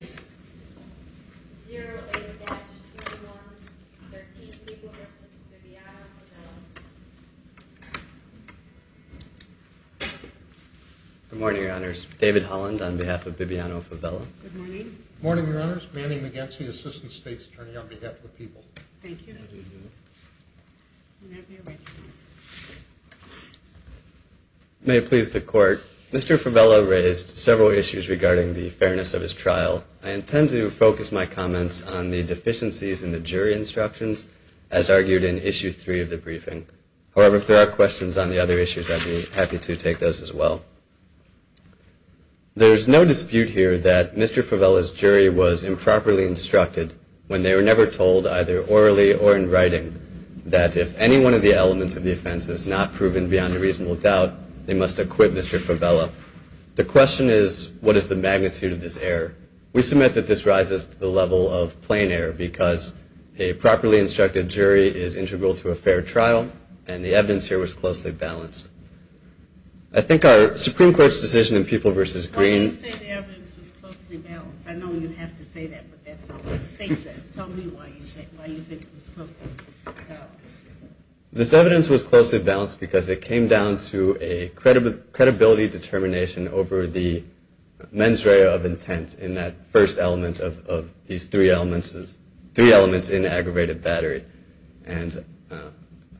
Good morning, Your Honors. David Holland on behalf of Bibiano-Favela. Good morning. Morning, Your Honors. Manny Maganzi, Assistant State's Attorney on behalf of the people. Thank you. May it please the Court. Mr. Favela raised several issues regarding the fairness of his trial. I intend to focus my comments on the deficiencies in the jury instructions as argued in Issue 3 of the briefing. However, if there are questions on the other issues, I'd be happy to take those as well. There is no dispute here that Mr. Favela's jury was improperly instructed when they were never told, either orally or in writing, that if any one of the elements of the offense is not proven beyond a reasonable doubt, they must acquit Mr. Favela. The question is, what is the magnitude of this error? We submit that this rises to the level of plain error, because a properly instructed jury is integral to a fair trial, and the evidence here was closely balanced. I think our Supreme Court's decision in People v. Green... Why do you say the evidence was closely balanced? I know you have to say that, but that's not what the state says. Tell me why you think it was closely balanced. This evidence was closely balanced because it came down to a credibility determination over the mens rea of intent in that first element of these three elements in aggravated battery.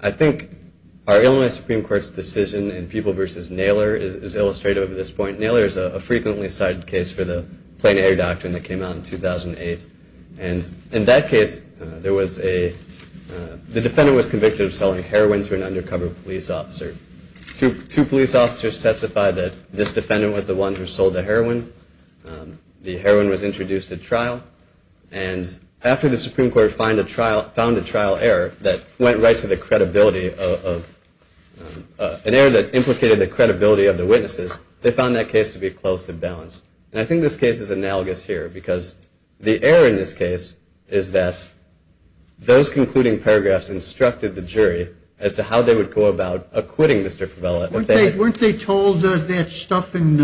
I think our Illinois Supreme Court's decision in People v. Naylor is illustrative of this point. Naylor is a frequently cited case for the plain error doctrine that came out in 2008. In that case, the defendant was convicted of selling heroin to an undercover police officer. Two police officers testified that this defendant was the one who sold the heroin. The heroin was introduced at trial, and after the Supreme Court found a trial error that implicated the credibility of the witnesses, they found that case to be closely balanced. And I think this case is analogous here, because the error in this case is that those concluding paragraphs instructed the jury as to how they would go about acquitting Mr. Fevella. Weren't they told that stuff in,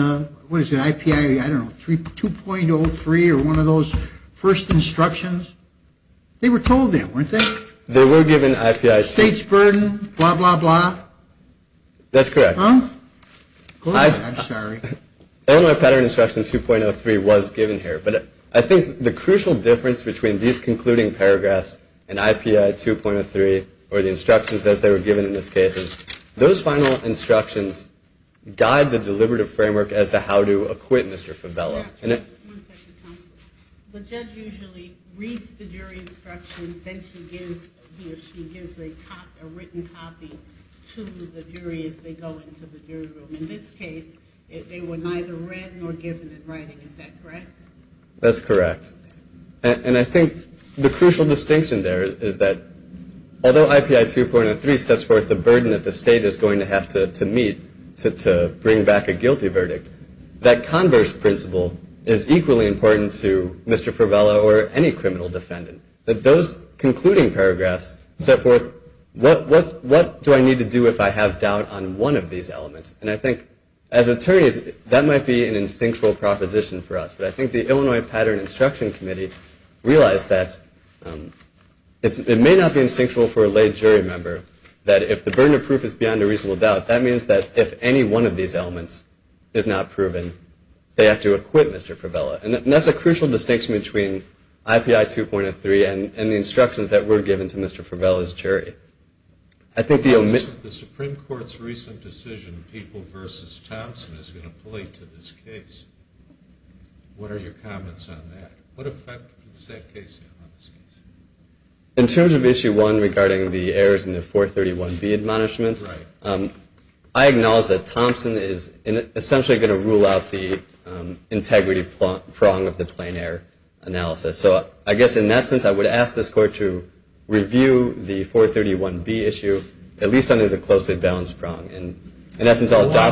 what is it, IPI, I don't know, 2.03 or one of those first instructions? They were told that, weren't they? They were given IPI... State's burden, blah, blah, blah. That's correct. Huh? Go ahead, I'm sorry. Illinois Pattern Instruction 2.03 was given here, but I think the crucial difference between these concluding paragraphs and IPI 2.03, or the instructions as they were given in this case, is those final instructions guide the deliberative framework as to how to acquit Mr. Fevella. One second, counsel. The judge usually reads the jury instructions, then she gives a written copy to the jury as they go into the jury room. In this case, they were neither read nor given in writing, is that correct? That's correct. And I think the crucial distinction there is that although IPI 2.03 sets forth the burden that the state is going to have to meet to bring back a guilty verdict, that converse principle is equally important to Mr. Fevella or any criminal defendant. Those concluding paragraphs set forth what do I need to do if I have doubt on one of these elements. And I think as attorneys, that might be an instinctual proposition for us. But I think the Illinois Pattern Instruction Committee realized that it may not be instinctual for a lay jury member that if the burden of proof is beyond a reasonable doubt, that means that if any one of these elements is not proven, they have to acquit Mr. Fevella. And that's a crucial distinction between IPI 2.03 and the instructions that were given to Mr. Fevella's jury. The Supreme Court's recent decision, People v. Thompson, is going to play to this case. What are your comments on that? What effect does that case have on this case? In terms of Issue 1 regarding the errors in the 431B admonishments, I acknowledge that Thompson is essentially going to rule out the integrity prong of the plain error analysis. So I guess in that sense, I would ask this court to review the 431B issue, at least under the closely balanced prong. Why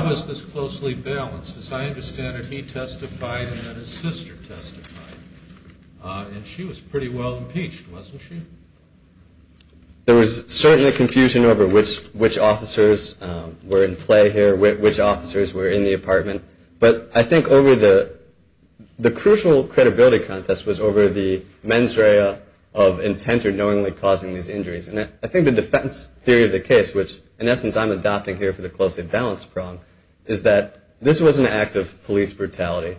was this closely balanced? As I understand it, he testified and then his sister testified. And she was pretty well impeached, wasn't she? There was certainly confusion over which officers were in play here, which officers were in the apartment. But I think the crucial credibility contest was over the mens rea of intent of knowingly causing these injuries. And I think the defense theory of the case, which in essence I'm adopting here for the closely balanced prong, is that this was an act of police brutality.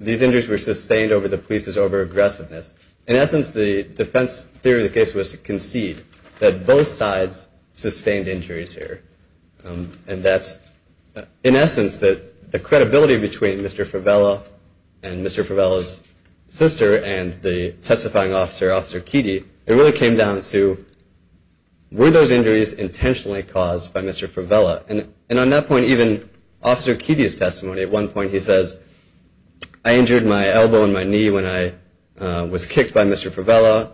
These injuries were sustained over the police's over-aggressiveness. In essence, the defense theory of the case was to concede that both sides sustained injuries here. And that's in essence that the credibility between Mr. Favela and Mr. Favela's sister and the testifying officer, Officer Keedy, it really came down to were those injuries intentionally caused by Mr. Favela? And on that point, even Officer Keedy's testimony, at one point he says, I injured my elbow and my knee when I was kicked by Mr. Favela.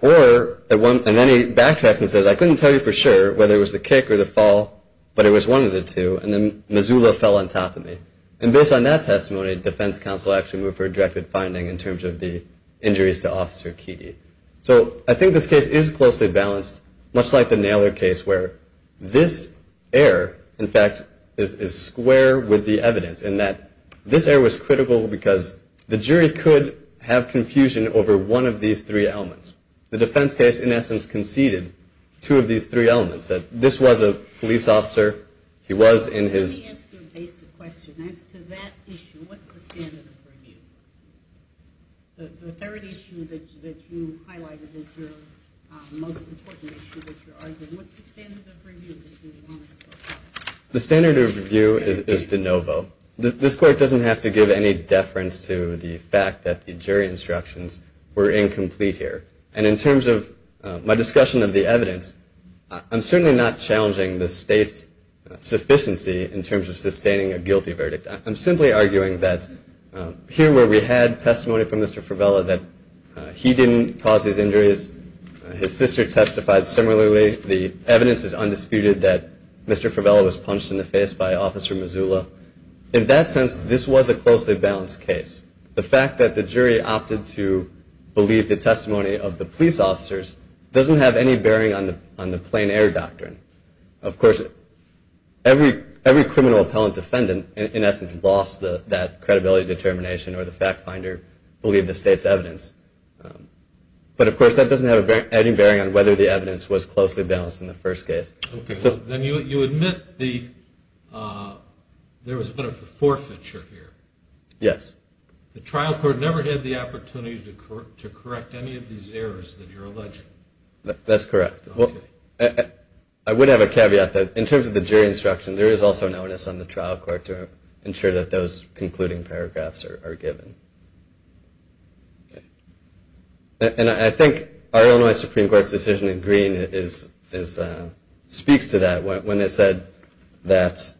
Or, and then he backtracks and says, I couldn't tell you for sure whether it was the kick or the fall, but it was one of the two, and then Missoula fell on top of me. And based on that testimony, defense counsel actually moved for a directed finding in terms of the injuries to Officer Keedy. So I think this case is closely balanced, much like the Naylor case, where this error, in fact, is square with the evidence in that this error was critical because the jury could have confusion over one of these three elements. The defense case, in essence, conceded two of these three elements, that this was a police officer, he was in his... Let me ask you a basic question. As to that issue, what's the standard of review? The third issue that you highlighted is your most important issue that you're arguing. What's the standard of review that you want us to look at? The standard of review is de novo. This court doesn't have to give any deference to the fact that the jury instructions were incomplete here. And in terms of my discussion of the evidence, I'm certainly not challenging the state's sufficiency in terms of sustaining a guilty verdict. I'm simply arguing that here where we had testimony from Mr. Fevella that he didn't cause these injuries, his sister testified similarly, the evidence is undisputed that Mr. Fevella was punched in the face by Officer Mazzulla. In that sense, this was a closely balanced case. The fact that the jury opted to believe the testimony of the police officers doesn't have any bearing on the plain error doctrine. Of course, every criminal appellant defendant, in essence, lost that credibility determination or the fact finder believed the state's evidence. But of course, that doesn't have any bearing on whether the evidence was closely balanced in the first case. Then you admit there was a bit of a forfeiture here. Yes. The trial court never had the opportunity to correct any of these errors that you're alleging. That's correct. I would have a caveat that in terms of the jury instruction, there is also an onus on the trial court to ensure that those concluding paragraphs are given. And I think our Illinois Supreme Court's decision in green speaks to that. When it said that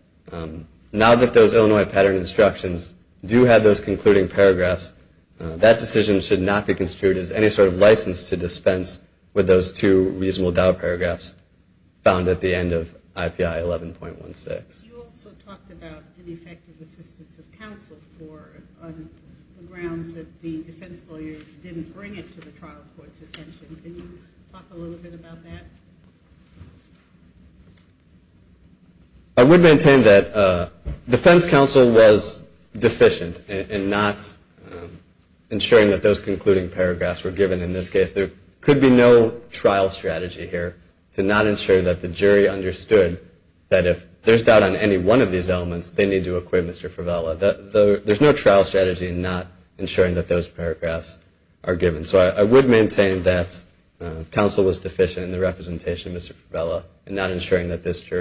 now that those Illinois pattern instructions do have those concluding paragraphs, that decision should not be construed as any sort of license to dispense with those two reasonable doubt paragraphs found at the end of IPI 11.16. You also talked about ineffective assistance of counsel on the grounds that the defense lawyer didn't bring it to the trial court's attention. Can you talk a little bit about that? I would maintain that defense counsel was deficient in ensuring that those concluding paragraphs were given. And in this case, there could be no trial strategy here to not ensure that the jury understood that if there's doubt on any one of these elements, they need to acquit Mr. Fevella. There's no trial strategy in not ensuring that those paragraphs are given. So I would maintain that counsel was deficient in the representation of Mr. Fevella And what's your best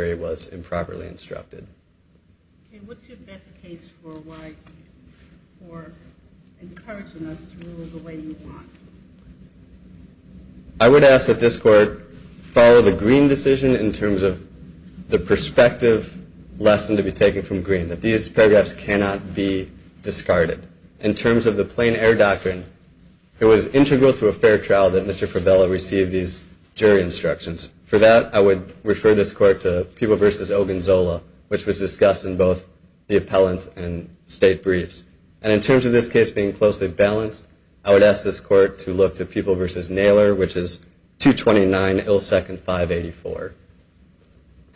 case for encouraging us to rule the way you want? I would ask that this court follow the green decision in terms of the perspective lesson to be taken from green, that these paragraphs cannot be discarded. In terms of the plain error doctrine, it was integral to a fair trial that Mr. Fevella receive these jury instructions. For that, I would refer this court to Peeble v. Ogunzola, which was discussed in both the appellant and state briefs. And in terms of this case being closely balanced, I would ask this court to look to Peeble v. Naylor, which is 229 Ill Second 584.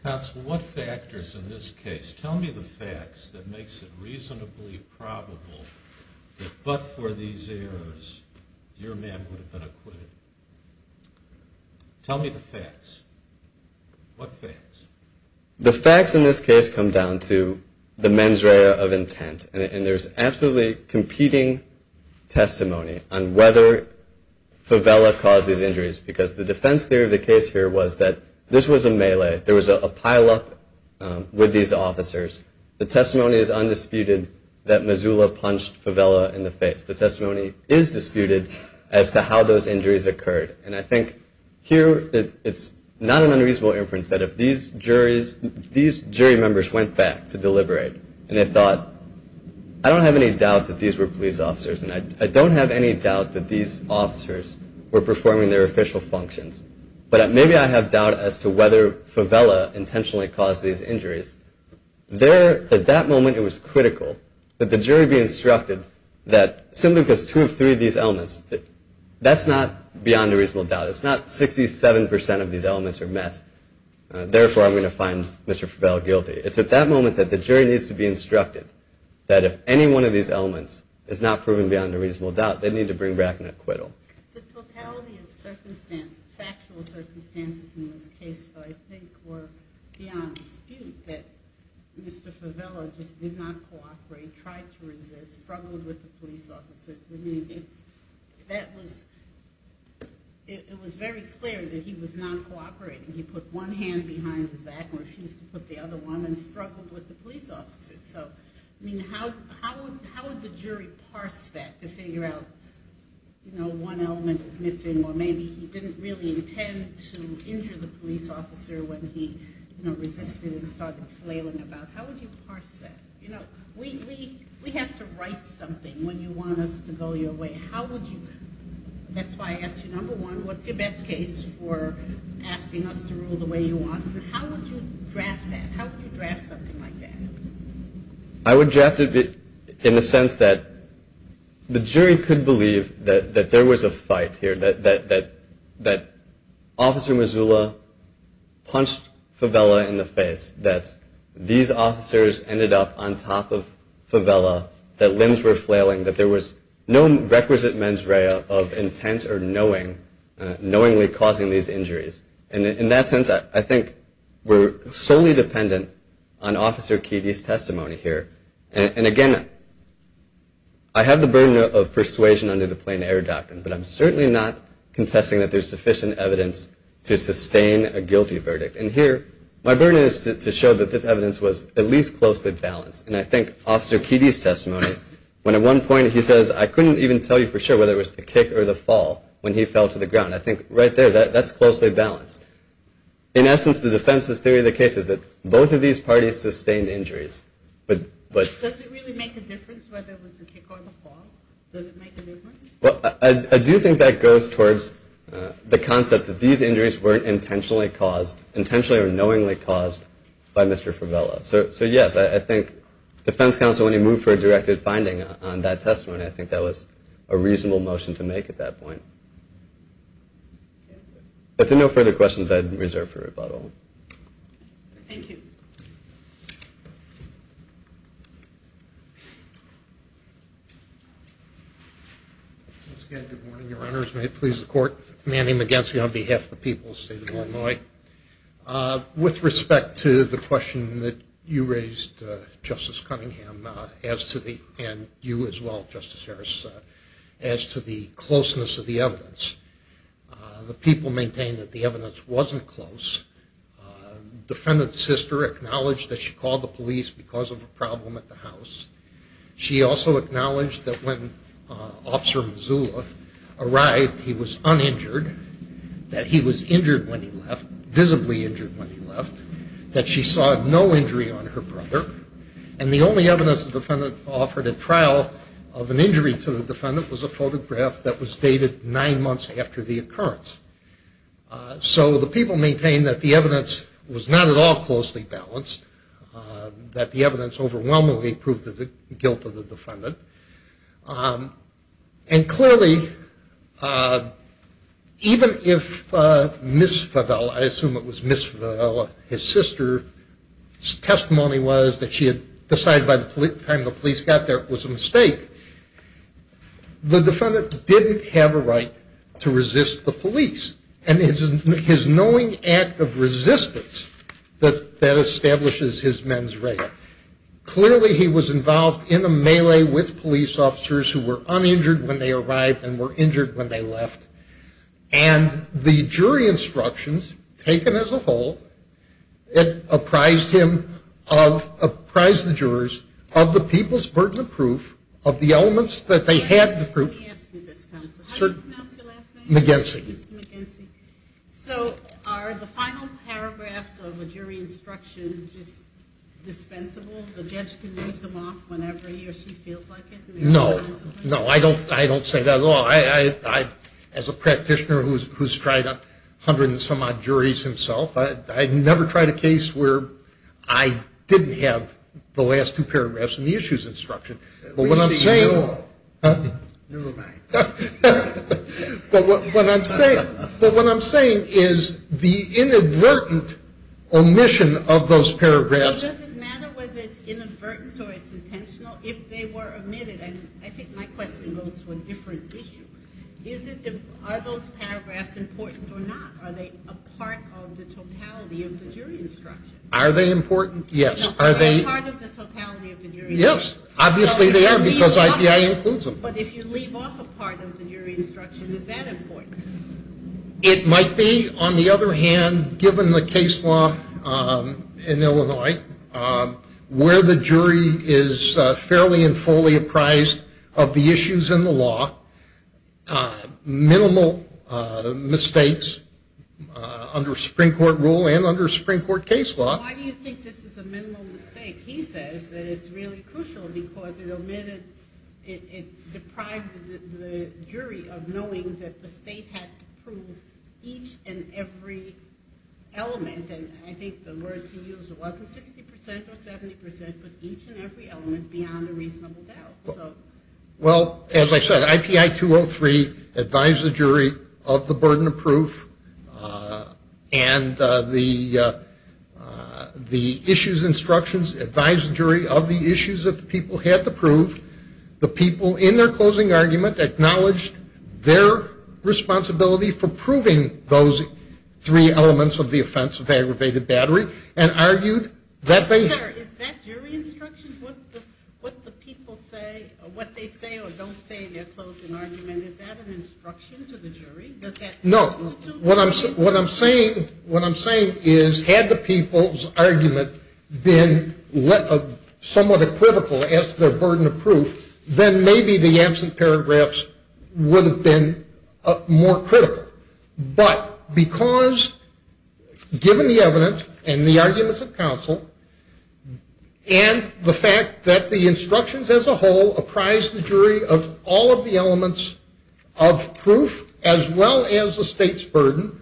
Counsel, what factors in this case? Tell me the facts that makes it reasonably probable that but for these errors, your man would have been acquitted. Tell me the facts. What facts? The facts in this case come down to the mens rea of intent. And there's absolutely competing testimony on whether Fevella caused these injuries, because the defense theory of the case here was that this was a melee. There was a pileup with these officers. The testimony is undisputed that Mazzuola punched Fevella in the face. The testimony is disputed as to how those injuries occurred. And I think here, it's not an unreasonable inference that if these jury members went back to deliberate, and they thought, I don't have any doubt that these were police officers, and I don't have any doubt that these officers were performing their official functions, but maybe I have doubt as to whether Fevella intentionally caused these injuries. At that moment, it was critical that the jury be instructed that simply because two of three of these elements, that's not beyond a reasonable doubt. It's not 67% of these elements are met. Therefore, I'm going to find Mr. Fevella guilty. It's at that moment that the jury needs to be instructed that if any one of these elements is not proven beyond a reasonable doubt, they need to bring back an acquittal. The totality of circumstances, factual circumstances in this case, though, I think were beyond dispute, that Mr. Fevella just did not cooperate, tried to resist, struggled with the police officers. I mean, it was very clear that he was not cooperating. He put one hand behind his back and refused to put the other one and struggled with the police officers. So, I mean, how would the jury parse that to figure out, you know, one element is missing or maybe he didn't really intend to injure the police officer when he, you know, resisted and started flailing about? How would you parse that? You know, we have to write something when you want us to go your way. How would you? That's why I asked you, number one, what's your best case for asking us to rule the way you want? How would you draft that? I would draft it in the sense that the jury could believe that there was a fight here, that Officer Mezula punched Fevella in the face, that these officers ended up on top of Fevella, that limbs were flailing, that there was no requisite mens rea of intent or knowing, knowingly causing these injuries. And in that sense, I think we're solely dependent on Officer Keedy's testimony here. And again, I have the burden of persuasion under the plain error doctrine, but I'm certainly not contesting that there's sufficient evidence to sustain a guilty verdict. And here, my burden is to show that this evidence was at least closely balanced. And I think Officer Keedy's testimony, when at one point he says, I couldn't even tell you for sure whether it was the kick or the fall when he fell to the ground. I think right there, that's closely balanced. In essence, the defense's theory of the case is that both of these parties sustained injuries. Does it really make a difference whether it was the kick or the fall? Does it make a difference? I do think that goes towards the concept that these injuries weren't intentionally caused, intentionally or knowingly caused by Mr. Fevella. So yes, I think defense counsel, when he moved for a directed finding on that testimony, I think that was a reasonable motion to make at that point. If there are no further questions, I'd reserve for rebuttal. Thank you. Once again, good morning, Your Honors. May it please the Court. Manny McGinsey on behalf of the people of the State of Illinois. With respect to the question that you raised, Justice Cunningham, and you as well, Justice Harris, as to the closeness of the evidence, the people maintain that the evidence wasn't close. Defendant's sister acknowledged that she called the police because of a problem at the house. She also acknowledged that when Officer Mazzullo arrived, he was uninjured, that he was injured when he left, visibly injured when he left, that she saw no injury on her brother, and the only evidence the defendant offered at trial of an injury to the defendant was a photograph that was dated nine months after the occurrence. So the people maintain that the evidence was not at all closely balanced, that the evidence overwhelmingly proved the guilt of the defendant. And clearly, even if Ms. Favella, I assume it was Ms. Favella, his sister's testimony was that she had decided by the time the police got there it was a mistake, the defendant didn't have a right to resist the police. And his knowing act of resistance, that establishes his mens rea. Clearly he was involved in a melee with police officers who were uninjured when they arrived and were injured when they left. And the jury instructions taken as a whole, it apprised him of, apprised the jurors, of the people's burden of proof, of the elements that they had to prove. Let me ask you this, Counsel. How did you pronounce your last name? McGinsey. Mr. McGinsey. So are the final paragraphs of a jury instruction just dispensable? The judge can read them off whenever he or she feels like it? No. No, I don't say that at all. As a practitioner who's tried hundreds of some odd juries himself, I've never tried a case where I didn't have the last two paragraphs in the issues instruction. At least you knew them. Huh? You were right. But what I'm saying is the inadvertent omission of those paragraphs. Well, does it matter whether it's inadvertent or it's intentional if they were omitted? I think my question goes to a different issue. Are those paragraphs important or not? Are they a part of the totality of the jury instruction? Are they important? Yes. Are they part of the totality of the jury instruction? Yes. Obviously they are because I.B.I. includes them. But if you leave off a part of the jury instruction, is that important? It might be. On the other hand, given the case law in Illinois, where the jury is fairly and fully apprised of the issues in the law, minimal mistakes under Supreme Court rule and under Supreme Court case law. Why do you think this is a minimal mistake? He says that it's really crucial because it omitted, it deprived the jury of knowing that the state had to prove each and every element. And I think the words he used, it wasn't 60% or 70%, but each and every element beyond a reasonable doubt. Well, as I said, I.B.I. 203 advised the jury of the burden of proof and the issues instructions advised the jury of the issues that the people had to prove. The people in their closing argument acknowledged their responsibility for proving those three elements of the offense of aggravated battery and argued that they. Is that jury instruction, what the people say, what they say or don't say in their closing argument, is that an instruction to the jury? No. What I'm saying is had the people's argument been somewhat a critical as their burden of proof, then maybe the absent paragraphs would have been more critical. But because given the evidence and the arguments of counsel and the fact that the instructions as a whole apprise the jury of all of the elements of proof as well as the state's burden,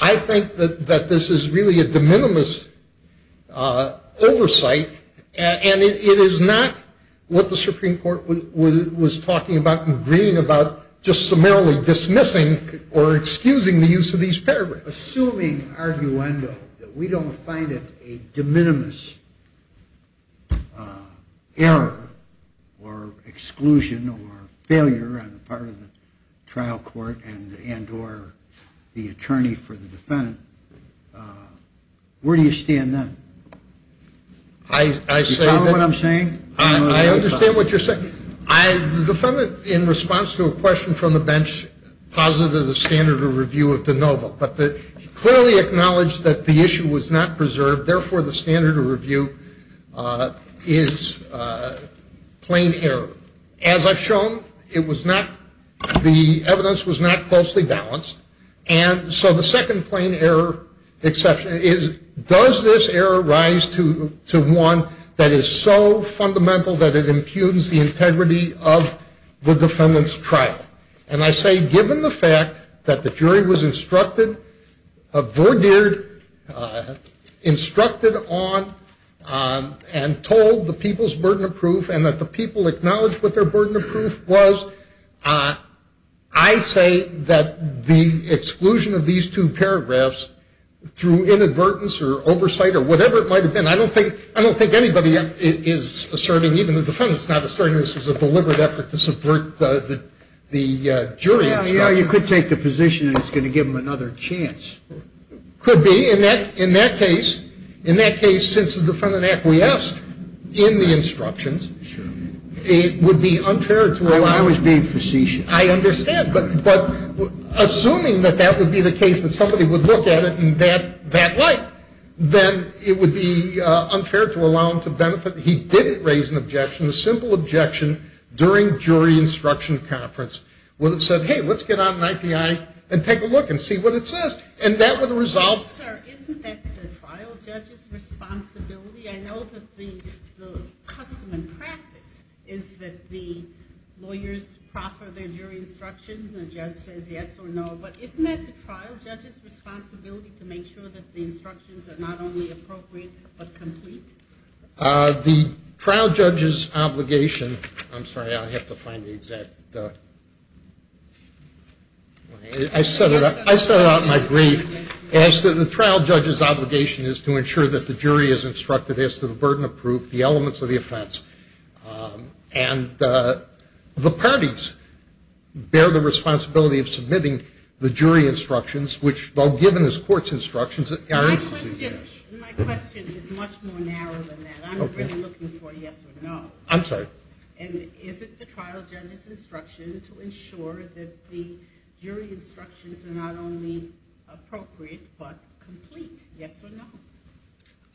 I think that this is really a de minimis oversight and it is not what the Supreme Court was talking about in green about just summarily dismissing or excusing the use of these paragraphs. Assuming, arguendo, that we don't find it a de minimis error or exclusion or failure on the part of the trial court and or the attorney for the defendant, where do you stand then? Do you follow what I'm saying? I understand what you're saying. I'm not so much positive of the standard of review of de novo, but clearly acknowledge that the issue was not preserved, therefore the standard of review is plain error. As I've shown, it was not, the evidence was not closely balanced, and so the second plain error exception is does this error rise to one that is so fundamental that it impugns the integrity of the defendant's trial? And I say given the fact that the jury was instructed, vergeared, instructed on and told the people's burden of proof and that the people acknowledged what their burden of proof was, I say that the exclusion of these two paragraphs through inadvertence or oversight or whatever it might have been, I don't think anybody is asserting, even the defendant's not asserting this was a deliberate effort to subvert the jury instruction. Yeah, you could take the position that it's going to give them another chance. Could be. In that case, since the defendant acquiesced in the instructions, it would be unfair to allow. I was being facetious. I understand. But assuming that that would be the case that somebody would look at it in that light, then it would be unfair to allow him to benefit. He didn't raise an objection, a simple objection during jury instruction conference when it said, hey, let's get out an IPI and take a look and see what it says. And that would resolve. Sir, isn't that the trial judge's responsibility? I know that the custom and practice is that the lawyers proffer their jury instruction, and the judge says yes or no, but isn't that the trial judge's responsibility to make sure that the instructions are not only appropriate but complete? The trial judge's obligation – I'm sorry, I have to find the exact – I set out in my brief is that the trial judge's obligation is to ensure that the jury is instructed as to the burden of proof, the elements of the offense. And the parties bear the responsibility of submitting the jury instructions, which, though given as court's instructions, aren't – My question is much more narrow than that. I'm really looking for a yes or no. I'm sorry. And is it the trial judge's instruction to ensure that the jury instructions are not only appropriate but complete, yes or no?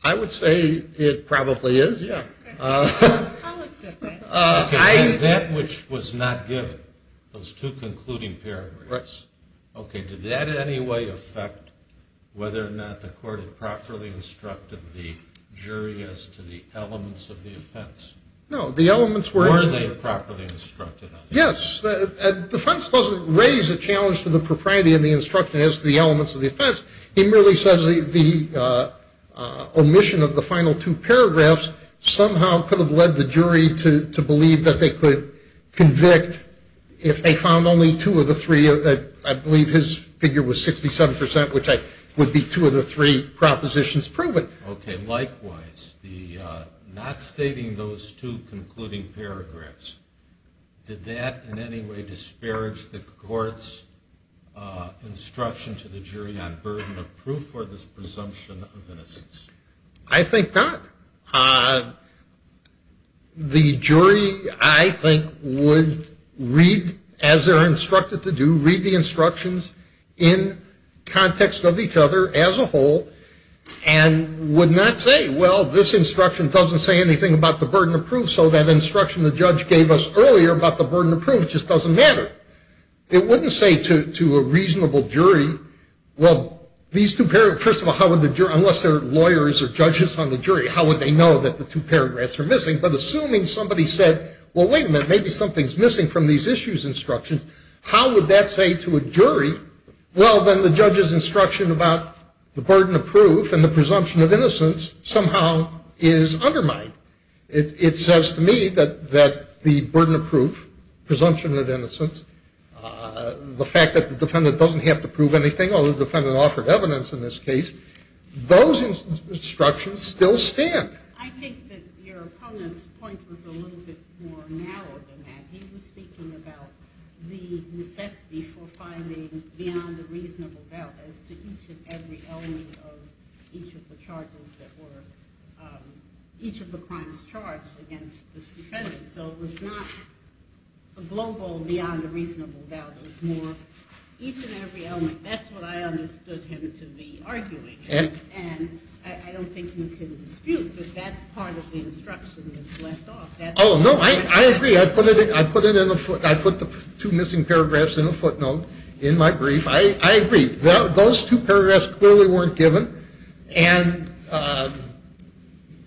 I would say it probably is, yeah. I'll accept that. That which was not given, those two concluding paragraphs, did that in any way affect whether or not the court had properly instructed the jury as to the elements of the offense? No, the elements were – Were they properly instructed? Yes. Defense doesn't raise a challenge to the propriety of the instruction as to the elements of the offense. It merely says the omission of the final two paragraphs somehow could have led the jury to believe that they could convict if they found only two of the three – I believe his figure was 67 percent, which would be two of the three propositions proven. Okay. Likewise, not stating those two concluding paragraphs, did that in any way disparage the court's instruction to the jury on burden of proof or this presumption of innocence? I think not. The jury, I think, would read, as they're instructed to do, read the instructions in context of each other as a whole and would not say, well, this instruction doesn't say anything about the burden of proof, so that instruction the judge gave us earlier about the burden of proof just doesn't matter. It wouldn't say to a reasonable jury, well, these two paragraphs, first of all, how would the jury, unless they're lawyers or judges on the jury, how would they know that the two paragraphs are missing? But assuming somebody said, well, wait a minute, maybe something's missing from these issues instructions, how would that say to a jury, well, then the judge's instruction about the burden of proof and the presumption of innocence somehow is undermined. It says to me that the burden of proof, presumption of innocence, the fact that the defendant doesn't have to prove anything, although the defendant offered evidence in this case, those instructions still stand. I think that your opponent's point was a little bit more narrow than that. He was speaking about the necessity for finding beyond a reasonable doubt as to each and every element of each of the charges that were, each of the crimes charged against this defendant. So it was not a global beyond a reasonable doubt. It was more each and every element. That's what I understood him to be arguing. And I don't think you can dispute that that part of the instruction is left off. Oh, no, I agree. I put it in a footnote. I put the two missing paragraphs in a footnote in my brief. I agree. Those two paragraphs clearly weren't given. And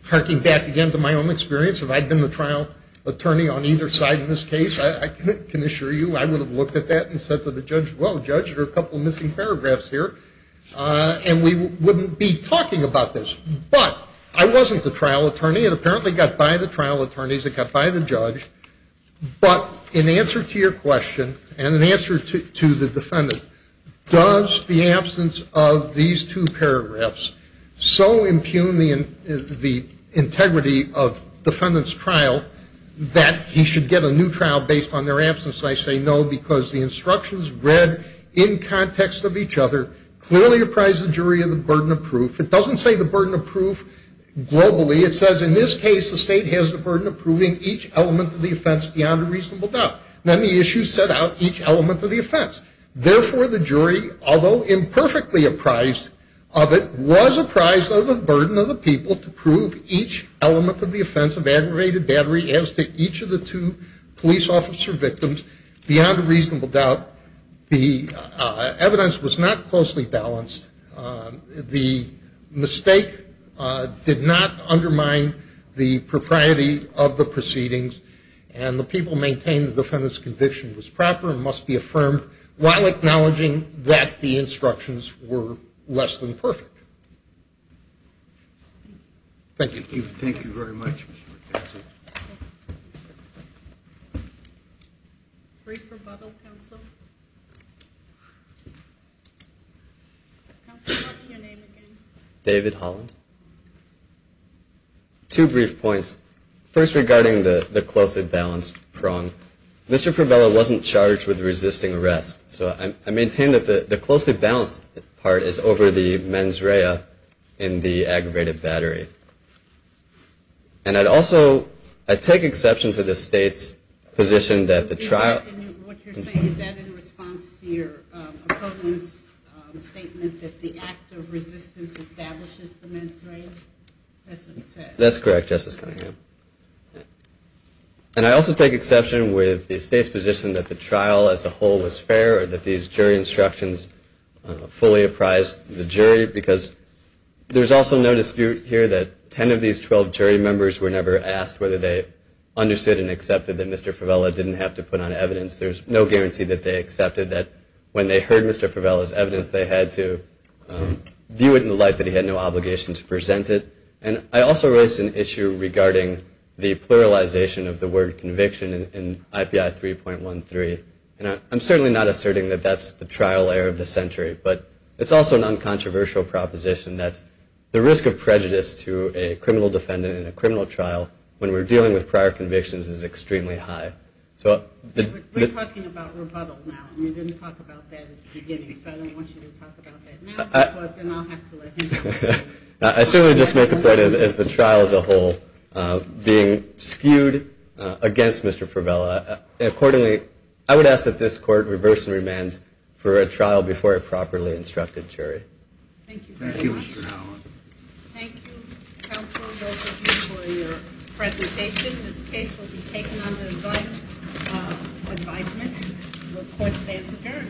harking back again to my own experience, if I had been the trial attorney on either side in this case, I can assure you, I would have looked at that and said to the judge, well, judge, there are a couple of missing paragraphs here. And we wouldn't be talking about this. But I wasn't the trial attorney. It apparently got by the trial attorneys. It got by the judge. But in answer to your question and in answer to the defendant, does the absence of these two paragraphs so impugn the integrity of defendant's trial that he should get a new trial based on their absence? I say no because the instructions read in context of each other clearly apprise the jury of the burden of proof. It doesn't say the burden of proof globally. It says in this case the state has the burden of proving each element of the offense beyond a reasonable doubt. Then the issue set out each element of the offense. Therefore, the jury, although imperfectly apprised of it, was apprised of the burden of the people to prove each element of the offense of aggravated battery as to each of the two police officer victims beyond a reasonable doubt. The evidence was not closely balanced. The mistake did not undermine the propriety of the proceedings. And the people maintained the defendant's conviction was proper and must be affirmed while acknowledging that the instructions were less than perfect. Thank you. Thank you very much, Mr. McKenzie. Brief rebuttal, counsel. Counsel, what's your name again? David Holland. Two brief points. First, regarding the closely balanced prong, Mr. Provello wasn't charged with resisting arrest. So I maintain that the closely balanced part is over the mens rea in the aggravated battery. And I'd also, I take exception to the state's position that the trial. What you're saying, is that in response to your opponent's statement that the act of resistance establishes the mens rea? That's what it says. That's correct, Justice Cunningham. And I also take exception with the state's position that the trial as a whole was fair or that these jury instructions fully apprised the jury. Because there's also no dispute here that ten of these twelve jury members were never asked whether they understood and accepted that Mr. Provello didn't have to put on evidence. There's no guarantee that they accepted that when they heard Mr. Provello's evidence they had to view it in the light that he had no obligation to present it. And I also raised an issue regarding the pluralization of the word conviction in IPI 3.13. And I'm certainly not asserting that that's the trial error of the century. But it's also an uncontroversial proposition that the risk of prejudice to a criminal defendant in a criminal trial when we're dealing with prior convictions is extremely high. We're talking about rebuttal now. You didn't talk about that at the beginning. So I don't want you to talk about that now. I certainly just make the point as the trial as a whole being skewed against Mr. Provello. Accordingly, I would ask that this court reverse and remand for a trial before it properly instructed jury. Thank you very much. Thank you, Mr. Howell. Thank you, counsel. Thank you for your presentation. This case will be taken under advisement. The court stands adjourned.